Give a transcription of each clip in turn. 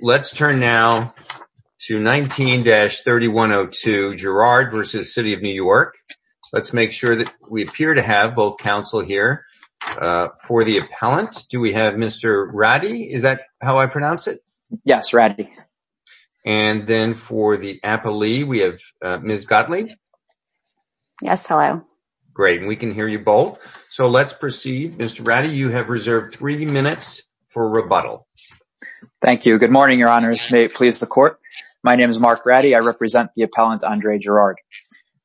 Let's turn now to 19-3102 Gerard v. City of New York. Let's make sure that we appear to have both counsel here. For the appellant, do we have Mr. Ratti? Is that how I pronounce it? Yes, Ratti. And then for the appellee, we have Ms. Gottlieb. Yes, hello. Great, and we can hear you both. So let's proceed. Mr. Ratti, you have reserved three minutes for rebuttal. Thank you. Good morning, your honors. May it please the court. My name is Mark Ratti. I represent the appellant, Andre Gerard.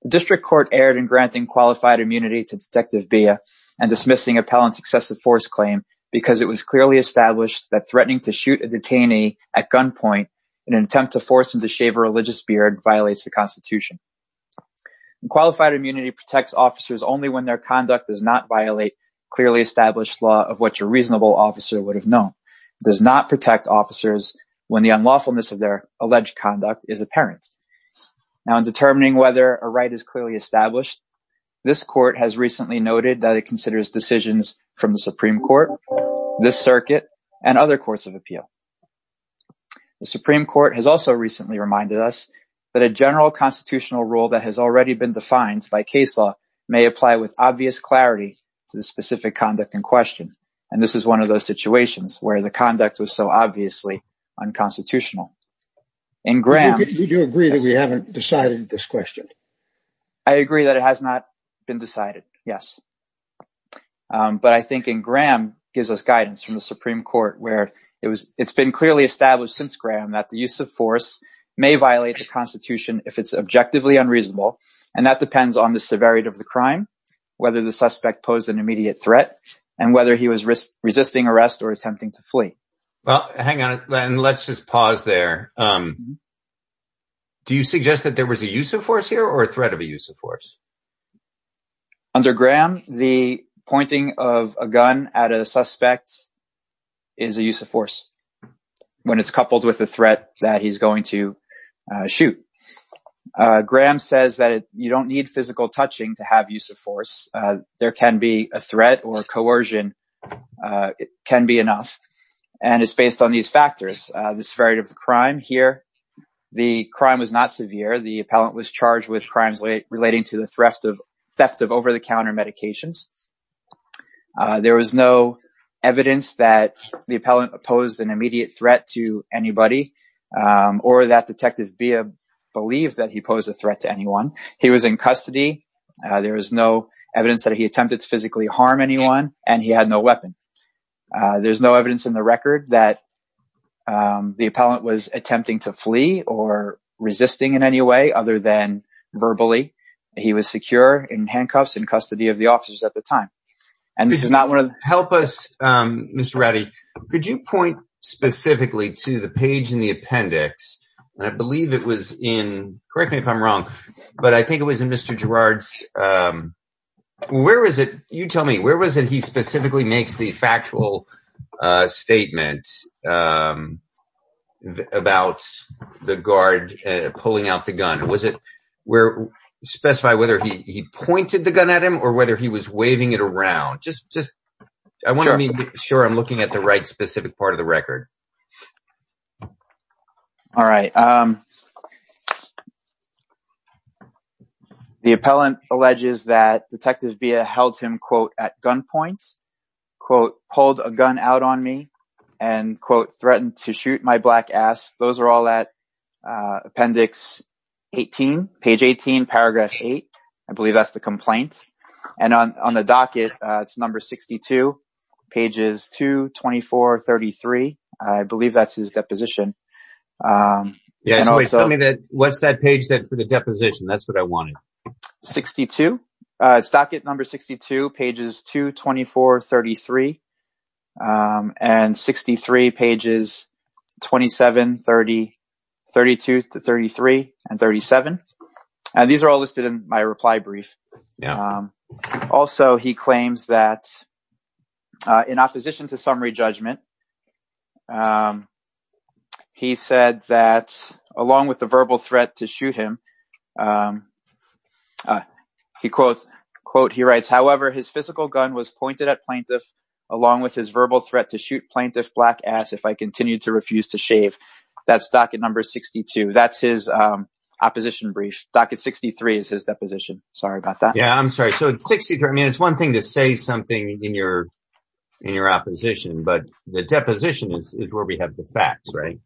The district court erred in granting qualified immunity to Detective Bea and dismissing appellant's excessive force claim because it was clearly established that threatening to shoot a detainee at gunpoint in an attempt to force him to shave a religious beard violates the Constitution. Qualified immunity protects officers only when their conduct does not violate clearly established law of what your reasonable officer would have known. It does not protect officers when the unlawfulness of their alleged conduct is apparent. Now, in determining whether a right is clearly established, this court has recently noted that it considers decisions from the Supreme Court, this circuit, and other courts of appeal. The Supreme Court has also recently reminded us that a general constitutional rule that has already been defined by case law may apply with obvious clarity to the specific conduct in question, and this is one of those situations where the conduct was so obviously unconstitutional. In Graham... Do you agree that we haven't decided this question? I agree that it has not been decided, yes. But I think in Graham gives us guidance from the Supreme Court where it's been clearly established since Graham that the use of force may violate the Constitution if it's objectively unreasonable, and that depends on the severity of the crime, whether the suspect posed an immediate threat, and whether he was resisting arrest or attempting to flee. Well, hang on, and let's just pause there. Do you suggest that there was a use of force here or a threat of a use of force? Under Graham, the pointing of a gun at a suspect is a use of force when it's coupled with the touching to have use of force. There can be a threat or coercion. It can be enough, and it's based on these factors. The severity of the crime here, the crime was not severe. The appellant was charged with crimes relating to the theft of over-the-counter medications. There was no evidence that the appellant posed an immediate threat to anybody or that Detective there was no evidence that he attempted to physically harm anyone, and he had no weapon. There's no evidence in the record that the appellant was attempting to flee or resisting in any way other than verbally. He was secure in handcuffs in custody of the officers at the time. And this is not one of the... Help us, Mr. Rowdy. Could you point specifically to the page in the appendix, and I believe it was in... Correct me if I'm wrong, but I think it was in Mr. Girard's... Where was it? You tell me. Where was it he specifically makes the factual statement about the guard pulling out the gun? Was it where... Specify whether he pointed the gun at him or whether he was waving it around. Just... I want to make sure I'm looking at the right thing. The appellant alleges that Detective Villa held him, quote, at gunpoint, quote, pulled a gun out on me, and, quote, threatened to shoot my black ass. Those are all at appendix 18, page 18, paragraph 8. I believe that's the complaint. And on the docket, it's number 62, pages 2, 24, 33. I believe that's his deposition. What's that page for the deposition? That's what I wanted. 62, docket number 62, pages 2, 24, 33, and 63, pages 27, 32 to 33, and 37. These are all listed in my reply brief. Also, he claims that in opposition to summary judgment, he said that along with the verbal threat to shoot him, he quotes, quote, he writes, however, his physical gun was pointed at plaintiff along with his verbal threat to shoot plaintiff's black ass if I continue to refuse to shave. That's docket number 62. That's his opposition brief. Docket 63 is his deposition. Sorry about that. Yeah, I'm sorry. So, it's 63. I mean, it's one thing to say something in your opposition, but the deposition is where we have the facts, right?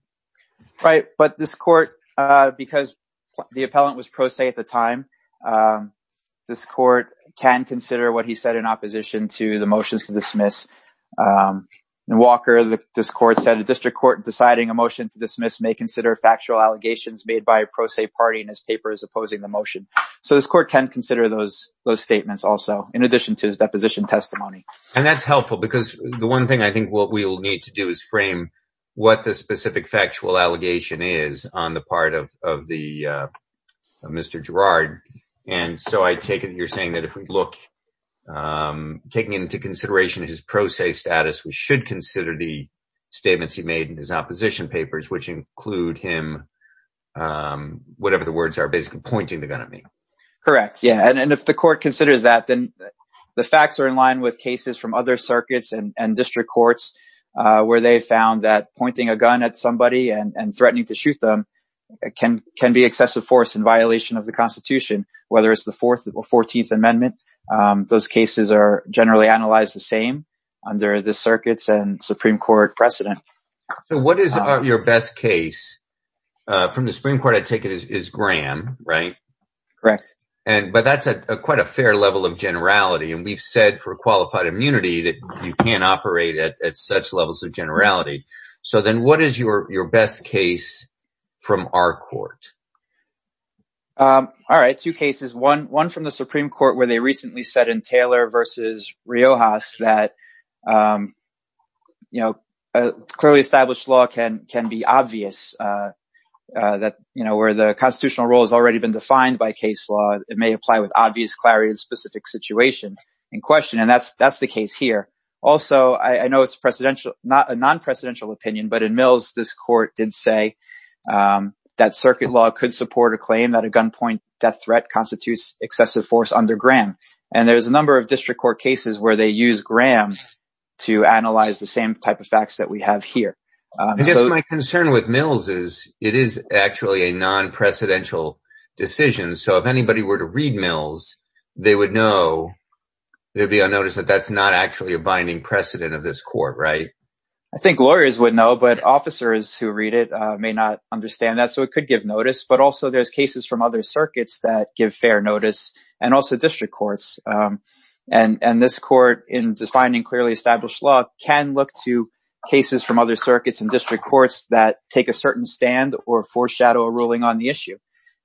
Right. But this court, because the appellant was pro se at the time, this court can consider what he said in opposition to the motions to dismiss may consider factual allegations made by a pro se party in his papers opposing the motion. So, this court can consider those statements also in addition to his deposition testimony. And that's helpful because the one thing I think what we'll need to do is frame what the specific factual allegation is on the part of Mr. Girard. And so, I take it you're saying that if we look, taking into consideration his pro se status, we should consider the facts, we should include him, whatever the words are, basically pointing the gun at me. Correct. Yeah. And if the court considers that, then the facts are in line with cases from other circuits and district courts where they found that pointing a gun at somebody and threatening to shoot them can be excessive force in violation of the constitution, whether it's the fourth or 14th amendment. Those cases are generally analyzed the same under the circuits and Supreme Court precedent. So, what is your best case from the Supreme Court? I take it is Graham, right? Correct. But that's a quite a fair level of generality. And we've said for qualified immunity that you can't operate at such levels of generality. So, then what is your best case from our court? All right. Two cases. One from the Supreme Court where they recently said in Taylor versus Riojas that clearly established law can be obvious that where the constitutional rule has already been defined by case law, it may apply with obvious clarity in specific situations in question. And that's the case here. Also, I know it's a non-presidential opinion, but in Mills, this court did say that circuit law could support a claim that a gunpoint death constitutes excessive force under Graham. And there's a number of district court cases where they use Graham to analyze the same type of facts that we have here. I guess my concern with Mills is it is actually a non-presidential decision. So, if anybody were to read Mills, they would know there'd be a notice that that's not actually a binding precedent of this court, right? I think lawyers would know, but officers who read it may not understand that. So, it could give notice, but also there's cases from other circuits that give fair notice and also district courts. And this court in defining clearly established law can look to cases from other circuits and district courts that take a certain stand or foreshadow a ruling on the issue.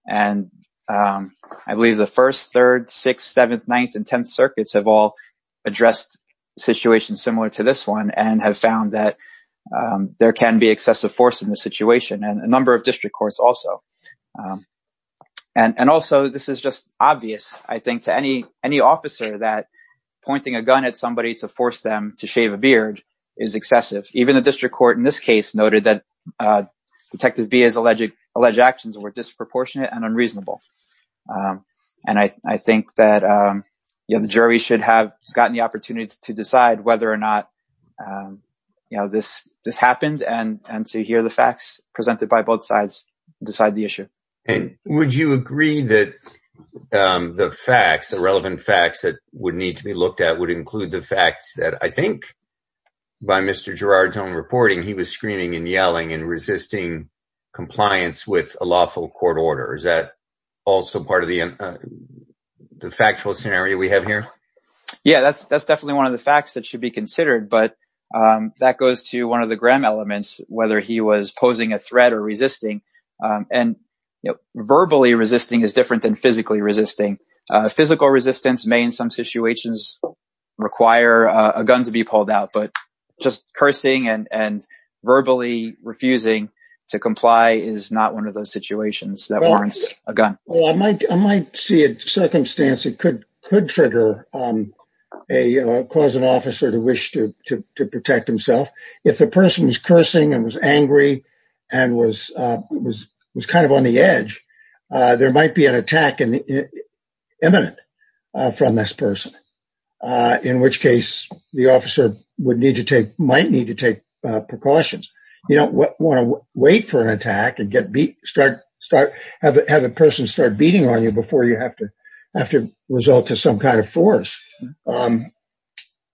And I believe the 1st, 3rd, 6th, 7th, 9th, and 10th circuits have all addressed situations similar to this one and have found that there can be excessive force in this situation and a number of district courts also. And also, this is just obvious, I think, to any officer that pointing a gun at somebody to force them to shave a beard is excessive. Even the district court in this case noted that Detective Bia's alleged actions were disproportionate and unreasonable. And I think that the jury should have gotten the facts presented by both sides to decide the issue. And would you agree that the facts, the relevant facts that would need to be looked at would include the facts that I think by Mr. Girard's own reporting, he was screaming and yelling and resisting compliance with a lawful court order. Is that also part of the factual scenario we have here? Yeah, that's definitely one of the facts that should be considered. But that goes to one of Graham elements, whether he was posing a threat or resisting. And verbally resisting is different than physically resisting. Physical resistance may, in some situations, require a gun to be pulled out. But just cursing and verbally refusing to comply is not one of those situations that warrants a gun. Well, I might see a circumstance that could trigger, cause an officer to wish to cursing and was angry and was was was kind of on the edge. There might be an attack and imminent from this person, in which case the officer would need to take, might need to take precautions. You don't want to wait for an attack and get beat, start, start, have the person start beating on you before you have to have to result to some kind of force.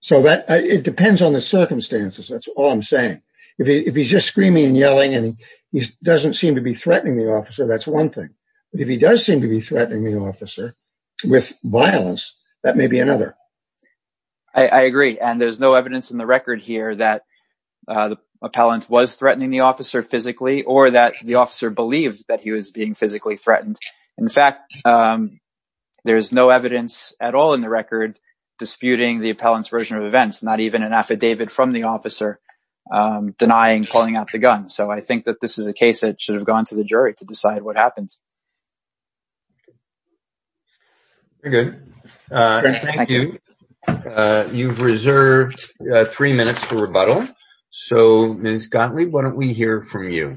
So that it depends on the if he's just screaming and yelling and he doesn't seem to be threatening the officer, that's one thing. But if he does seem to be threatening the officer with violence, that may be another. I agree. And there's no evidence in the record here that the appellant was threatening the officer physically or that the officer believes that he was being physically threatened. In fact, there is no evidence at all in the record disputing the appellant's version of events, not even an affidavit from the officer denying pulling out the gun. So I think that this is a case that should have gone to the jury to decide what happens. Very good. Thank you. You've reserved three minutes for rebuttal. So Ms. Gottlieb, why don't we hear from you?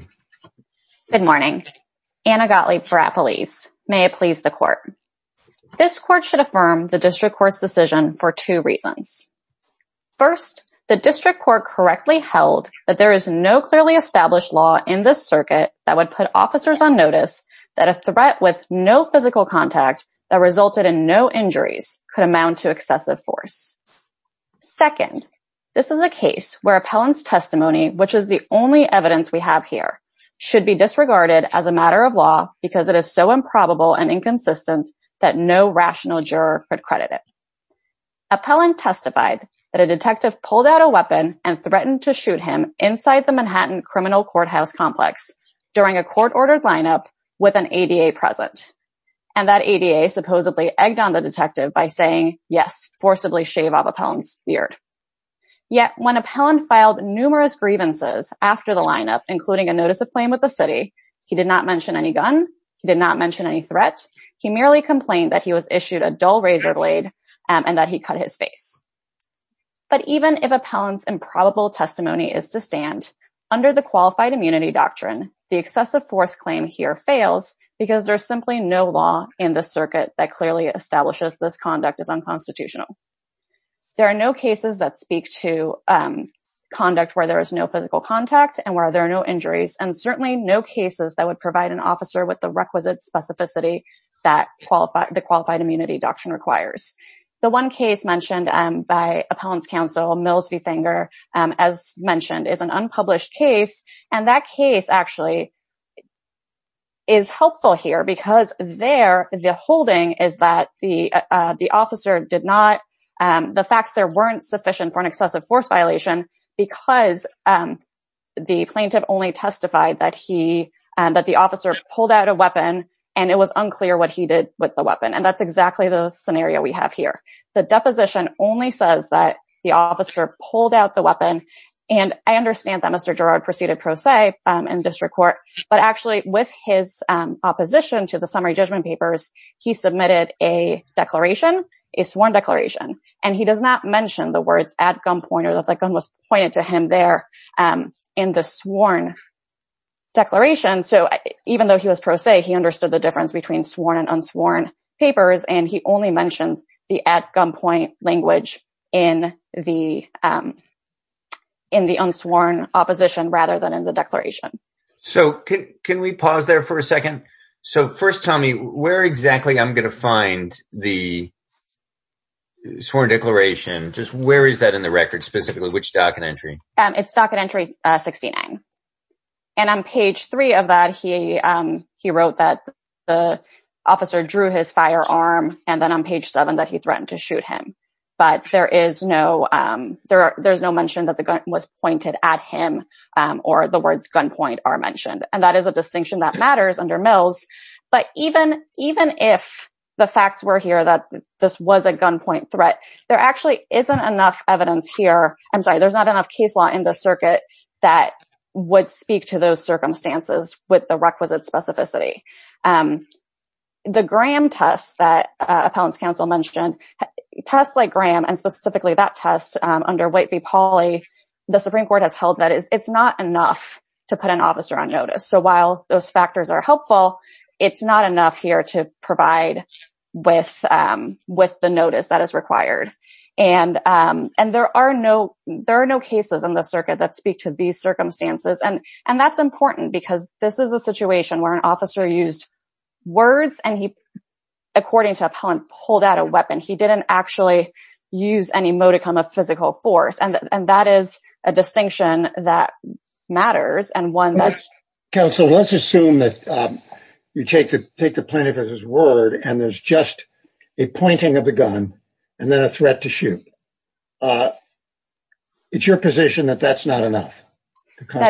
Good morning. Anna Gottlieb for Appalese. May it please the court. This court should affirm the district court's decision for two reasons. First, the district court correctly held that there is no clearly established law in this circuit that would put officers on notice that a threat with no physical contact that resulted in no injuries could amount to excessive force. Second, this is a case where appellant's testimony, which is the only evidence we have here, should be disregarded as a matter of law because it is so improbable and inconsistent that no rational juror could credit it. Appellant testified that a detective pulled out a weapon and threatened to shoot him inside the Manhattan criminal courthouse complex during a court-ordered lineup with an ADA present. And that ADA supposedly egged on the detective by saying, yes, forcibly shave off appellant's beard. Yet when appellant filed numerous grievances after the lineup, including a notice of claim with the city, he did not mention any gun. He did not mention any threat. He merely complained that was issued a dull razor blade and that he cut his face. But even if appellant's improbable testimony is to stand under the qualified immunity doctrine, the excessive force claim here fails because there's simply no law in the circuit that clearly establishes this conduct is unconstitutional. There are no cases that speak to conduct where there is no physical contact and where there are no injuries and certainly no cases that would provide an officer with the requisite specificity that the qualified immunity doctrine requires. The one case mentioned by appellant's counsel Mills v. Finger, as mentioned, is an unpublished case. And that case actually is helpful here because there, the holding is that the officer did not, the facts there weren't sufficient for an excessive force violation because the plaintiff only testified that he, that the officer pulled out a weapon and it was unclear what he did with the weapon. And that's exactly the scenario we have here. The deposition only says that the officer pulled out the weapon. And I understand that Mr. Gerard proceeded pro se in district court, but actually with his opposition to the summary judgment papers, he submitted a declaration, a sworn declaration. And he does not mention the words at gunpoint or that the gun was pointed to him there in the sworn declaration. So even though he was pro se, he understood the difference between sworn and unsworn papers. And he only mentioned the at gunpoint language in the, in the unsworn opposition rather than in the declaration. So can we pause there for a second? So first tell me where exactly I'm going to find the sworn declaration. Just where is that in the record specifically, which docket entry? It's docket entry 69. And on page three of that, he wrote that the officer drew his firearm and then on page seven that he threatened to shoot him. But there is no, there's no mention that the gun was pointed at him or the words gunpoint are mentioned. And that is a distinction that there actually isn't enough evidence here. I'm sorry, there's not enough case law in the circuit that would speak to those circumstances with the requisite specificity. The Graham tests that appellant's counsel mentioned tests like Graham and specifically that test under White v. Pauly, the Supreme Court has held that it's not enough to put an officer on notice. So while those factors are helpful, it's not enough here to provide with with the notice that is required. And, and there are no, there are no cases in the circuit that speak to these circumstances. And, and that's important because this is a situation where an officer used words and he, according to appellant, pulled out a weapon. He didn't actually use any modicum of physical force. And that is a distinction that matters. And one that's. Counsel, let's assume that you take the, take the plaintiff at his word, and there's just a pointing of the gun and then a threat to shoot. It's your position that that's not enough. Because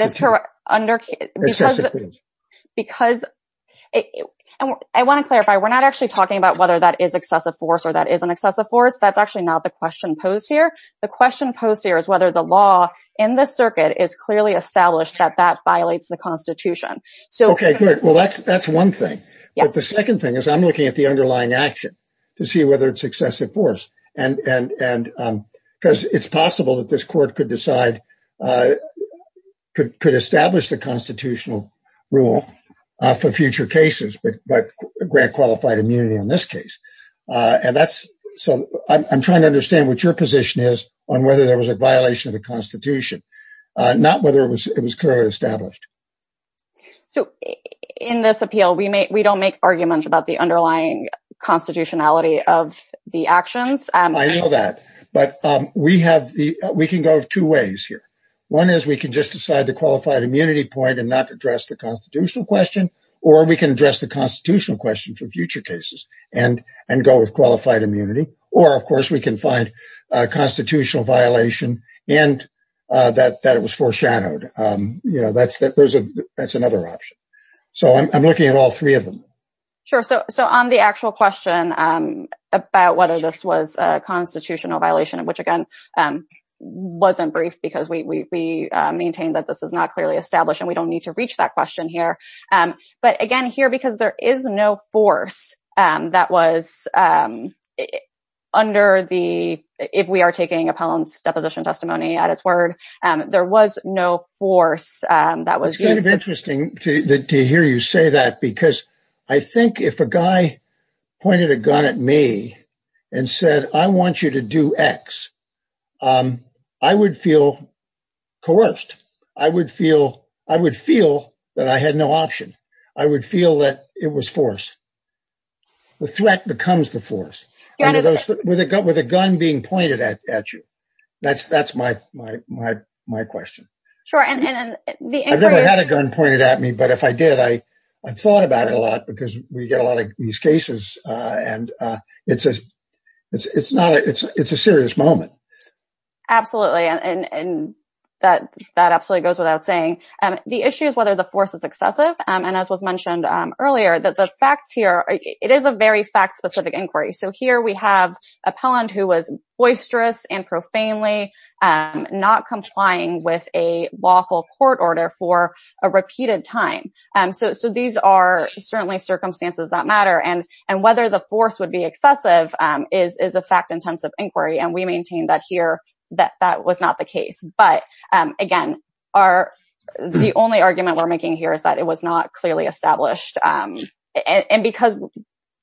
I want to clarify, we're not actually talking about whether that is excessive force or that is an excessive force. That's actually not the question posed here. The question posed here is whether the law in the circuit is clearly established that that violates the constitution. So, okay, good. Well, that's, that's one thing. But the second thing is I'm looking at the underlying action to see whether it's excessive force and, and, and because it's possible that this court could decide, could, could establish the constitutional rule for future cases, but, but grant qualified immunity in this case. And that's, so I'm trying to understand what your position is on whether there was a violation of the constitution, not whether it was, it was clearly established. So in this appeal, we may, we don't make arguments about the underlying constitutionality of the actions. I know that, but we have the, we can go two ways here. One is we can just decide the qualified immunity point and not address the constitutional question, or we can address the constitutional question for future cases and, and go with qualified you know, that's, that there's a, that's another option. So I'm looking at all three of them. Sure. So, so on the actual question about whether this was a constitutional violation, which again, wasn't brief because we, we, we maintain that this is not clearly established and we don't need to reach that question here. But again, here, because there is no force that was it under the, if we are taking a pound's deposition testimony at its word, there was no force that was interesting to hear you say that, because I think if a guy pointed a gun at me and said, I want you to do X I would feel coerced. I would feel, I would feel that I had no option. I would feel that it was forced. The threat becomes the force with a gun, with a gun being pointed at, at you. That's, that's my, my, my, my question. I've never had a gun pointed at me, but if I did, I, I thought about it a lot because we get a lot of these cases and it's a, it's, it's not a, it's, it's a serious moment. Absolutely. And, and that, that absolutely goes without saying the issue is whether the force is excessive. And as was mentioned earlier, that the facts here, it is a very fact specific inquiry. So here we have appellant who was boisterous and profanely not complying with a lawful court order for a repeated time. So, so these are certainly circumstances that matter and, and whether the force would be excessive is, is a fact intensive inquiry. And we maintain that here, that that was not the case. But again, our, the only argument we're making here is that it was not clearly established. And because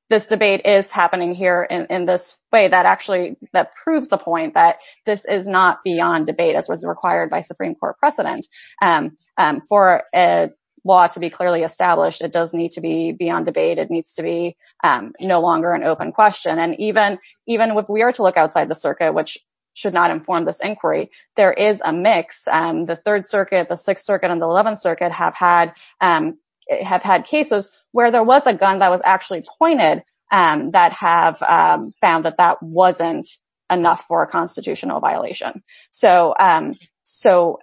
this debate is happening here in this way, that actually, that proves the point that this is not beyond debate as was required by Supreme Court precedent. For a law to be clearly established, it does need to be beyond debate. It needs to be no longer an open question. And even, even if we are to look outside the circuit, which should not inform this inquiry, there is a mix. The third circuit, the sixth circuit and the 11th circuit have had, have had cases where there was a gun that was actually pointed, that have found that that wasn't enough for a constitutional violation. So, so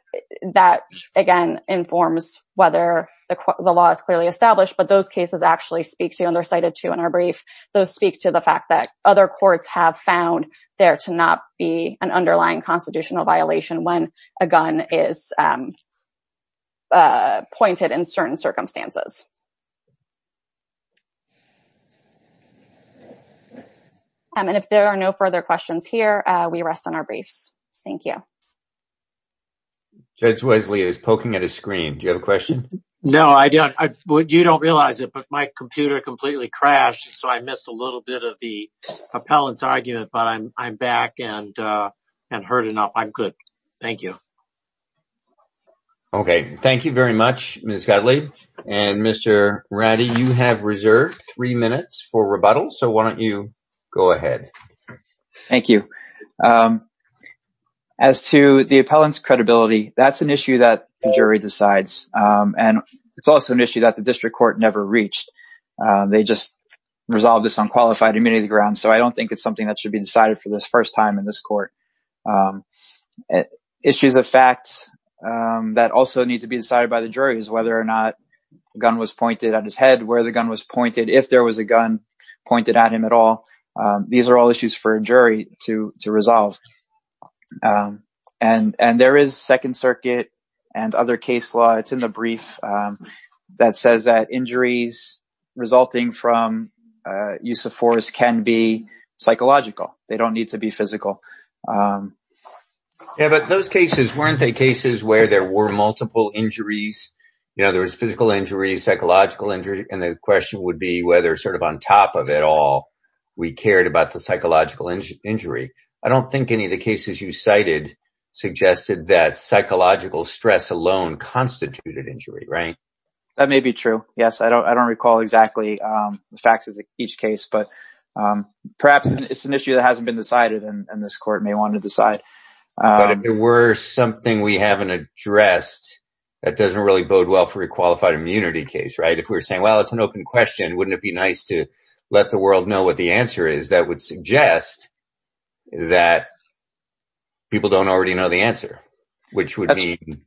that again, informs whether the law is clearly established, but those cases actually speak to, and they're cited to in our brief, those speak to the fact that other courts have found there to not be an underlying constitutional violation when a gun is pointed in certain circumstances. And if there are no further questions here, we rest on our briefs. Thank you. Judge Wesley is poking at his screen. Do you have a question? No, I don't. You don't realize it, but my computer completely crashed. So I missed a little bit of the appellant's argument, but I'm, I'm back and, and heard enough. I'm good. Thank you. Okay. Thank you very much, Ms. Godley. And Mr. Ratty, you have reserved three minutes for rebuttal. So why don't you go ahead? Thank you. As to the appellant's credibility, that's an issue that the jury decides. And it's also an issue that the district court never reached. They just resolved this on qualified immunity grounds. So I don't think it's something that should be decided for this first time in this court. Issues of facts that also need to be decided by the jury is whether or not the gun was pointed at his head, where the gun was pointed, if there was a gun pointed at him at all. These are all issues for a jury to, to resolve. And, and there is second circuit and other case law. It's in the brief that says that injuries resulting from use of force can be psychological. They don't need to be physical. Yeah. But those cases, weren't they cases where there were multiple injuries, you know, there was physical injury, psychological injury. And the question would be whether sort of on top of it all, we cared about the psychological injury. I don't think any of the cases you cited suggested that psychological stress alone constituted injury, right? That may be true. Yes. I don't, I don't recall exactly the facts of each case, but perhaps it's an issue that hasn't been decided and this court may want to decide. But if it were something we haven't addressed, that doesn't really bode well for a qualified immunity case, right? If we were saying, well, it's an open question, wouldn't it be nice to let the world know what the answer is that would suggest that people don't already know the answer, which would mean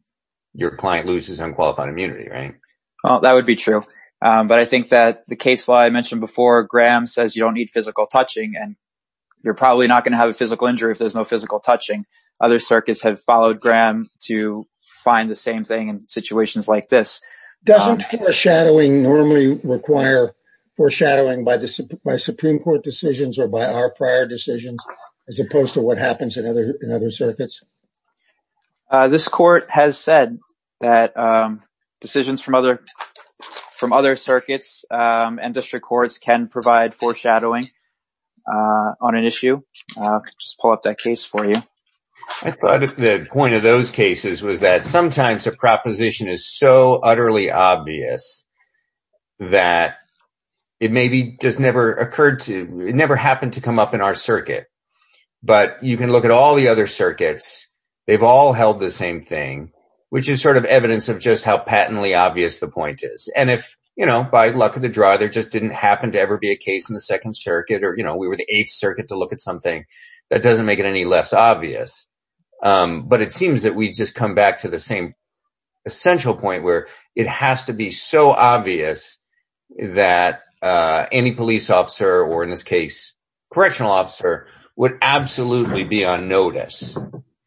your client loses unqualified immunity, right? Oh, that would be true. But I think that the case law I mentioned before, Graham says you don't need physical touching and you're probably not going to have a physical injury if there's no physical touching. Other circuits have followed Graham to find the same thing in situations like this. Doesn't foreshadowing normally require foreshadowing by the Supreme Court decisions or by our prior decisions, as opposed to what happens in other circuits? This court has said that decisions from other circuits and district courts can provide foreshadowing on an issue. I'll just pull up that case for you. I thought the point of those cases was that sometimes a proposition is so utterly obvious that it never happened to come up in our circuit. But you can look at all the other circuits, they've all held the same thing, which is sort of evidence of just how patently obvious the point is. And if by luck of the draw, there just didn't happen to ever be a case in the second circuit, or we were the eighth circuit to look at something, that doesn't make it any less obvious. But it seems that we just come back to the same essential point where it has to be so obvious that any police officer, or in this case, correctional officer, would absolutely be on notice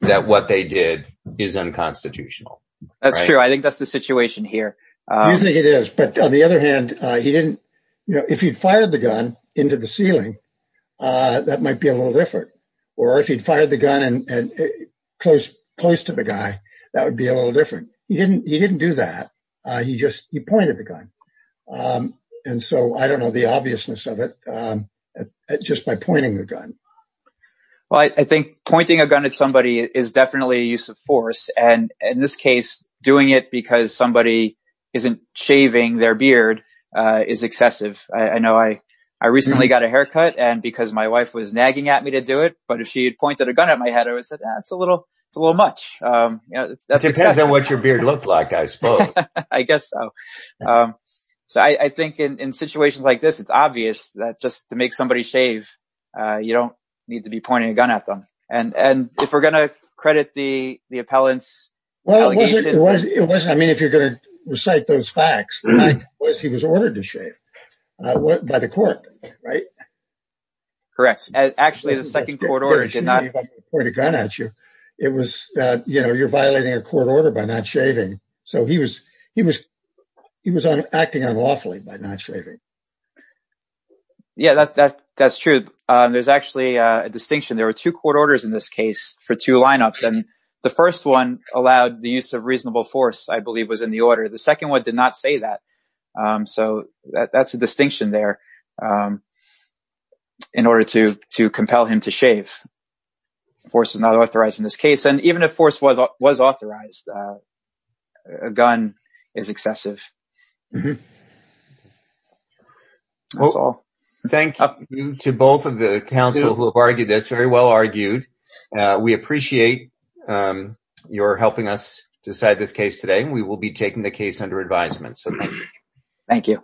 that what they did is unconstitutional. That's true. I think that's the situation here. You think it is. But on the other hand, if he'd fired the gun into the ceiling, that might be a little different. Or if he'd fired the gun close to the guy, that would be a little different. He didn't do that. He just pointed the gun. And so I don't know the obviousness of it, just by pointing the gun. Well, I think pointing a gun at somebody is definitely a use of force. And in this case, doing it because somebody isn't shaving their beard is excessive. I know I recently got a haircut and because my wife was nagging at me to do it, but if she had pointed a gun at my head, it's a little much. It depends on what your beard looked like, I suppose. I guess so. So I think in situations like this, it's obvious that just to make somebody shave, you don't need to be pointing a gun at them. And if we're going to credit the appellants... I mean, if you're going to recite those facts, he was ordered to shave by the court, right? Correct. Actually, the second court order did not point a gun at you. It was, you know, you're violating a court order by not shaving. So he was acting unlawfully by not shaving. Yeah, that's true. There's actually a distinction. There were two court orders in this case for two lineups. And the first one allowed the use of reasonable force, I believe was in the order. The second one did not say that. So that's a distinction there. In order to compel him to shave, force is not authorized in this case. And even if force was authorized, a gun is excessive. That's all. Thank you to both of the counsel who have argued this, very well argued. We appreciate your helping us decide this case today. We will be taking the case under advisement. So thank you. Thank you.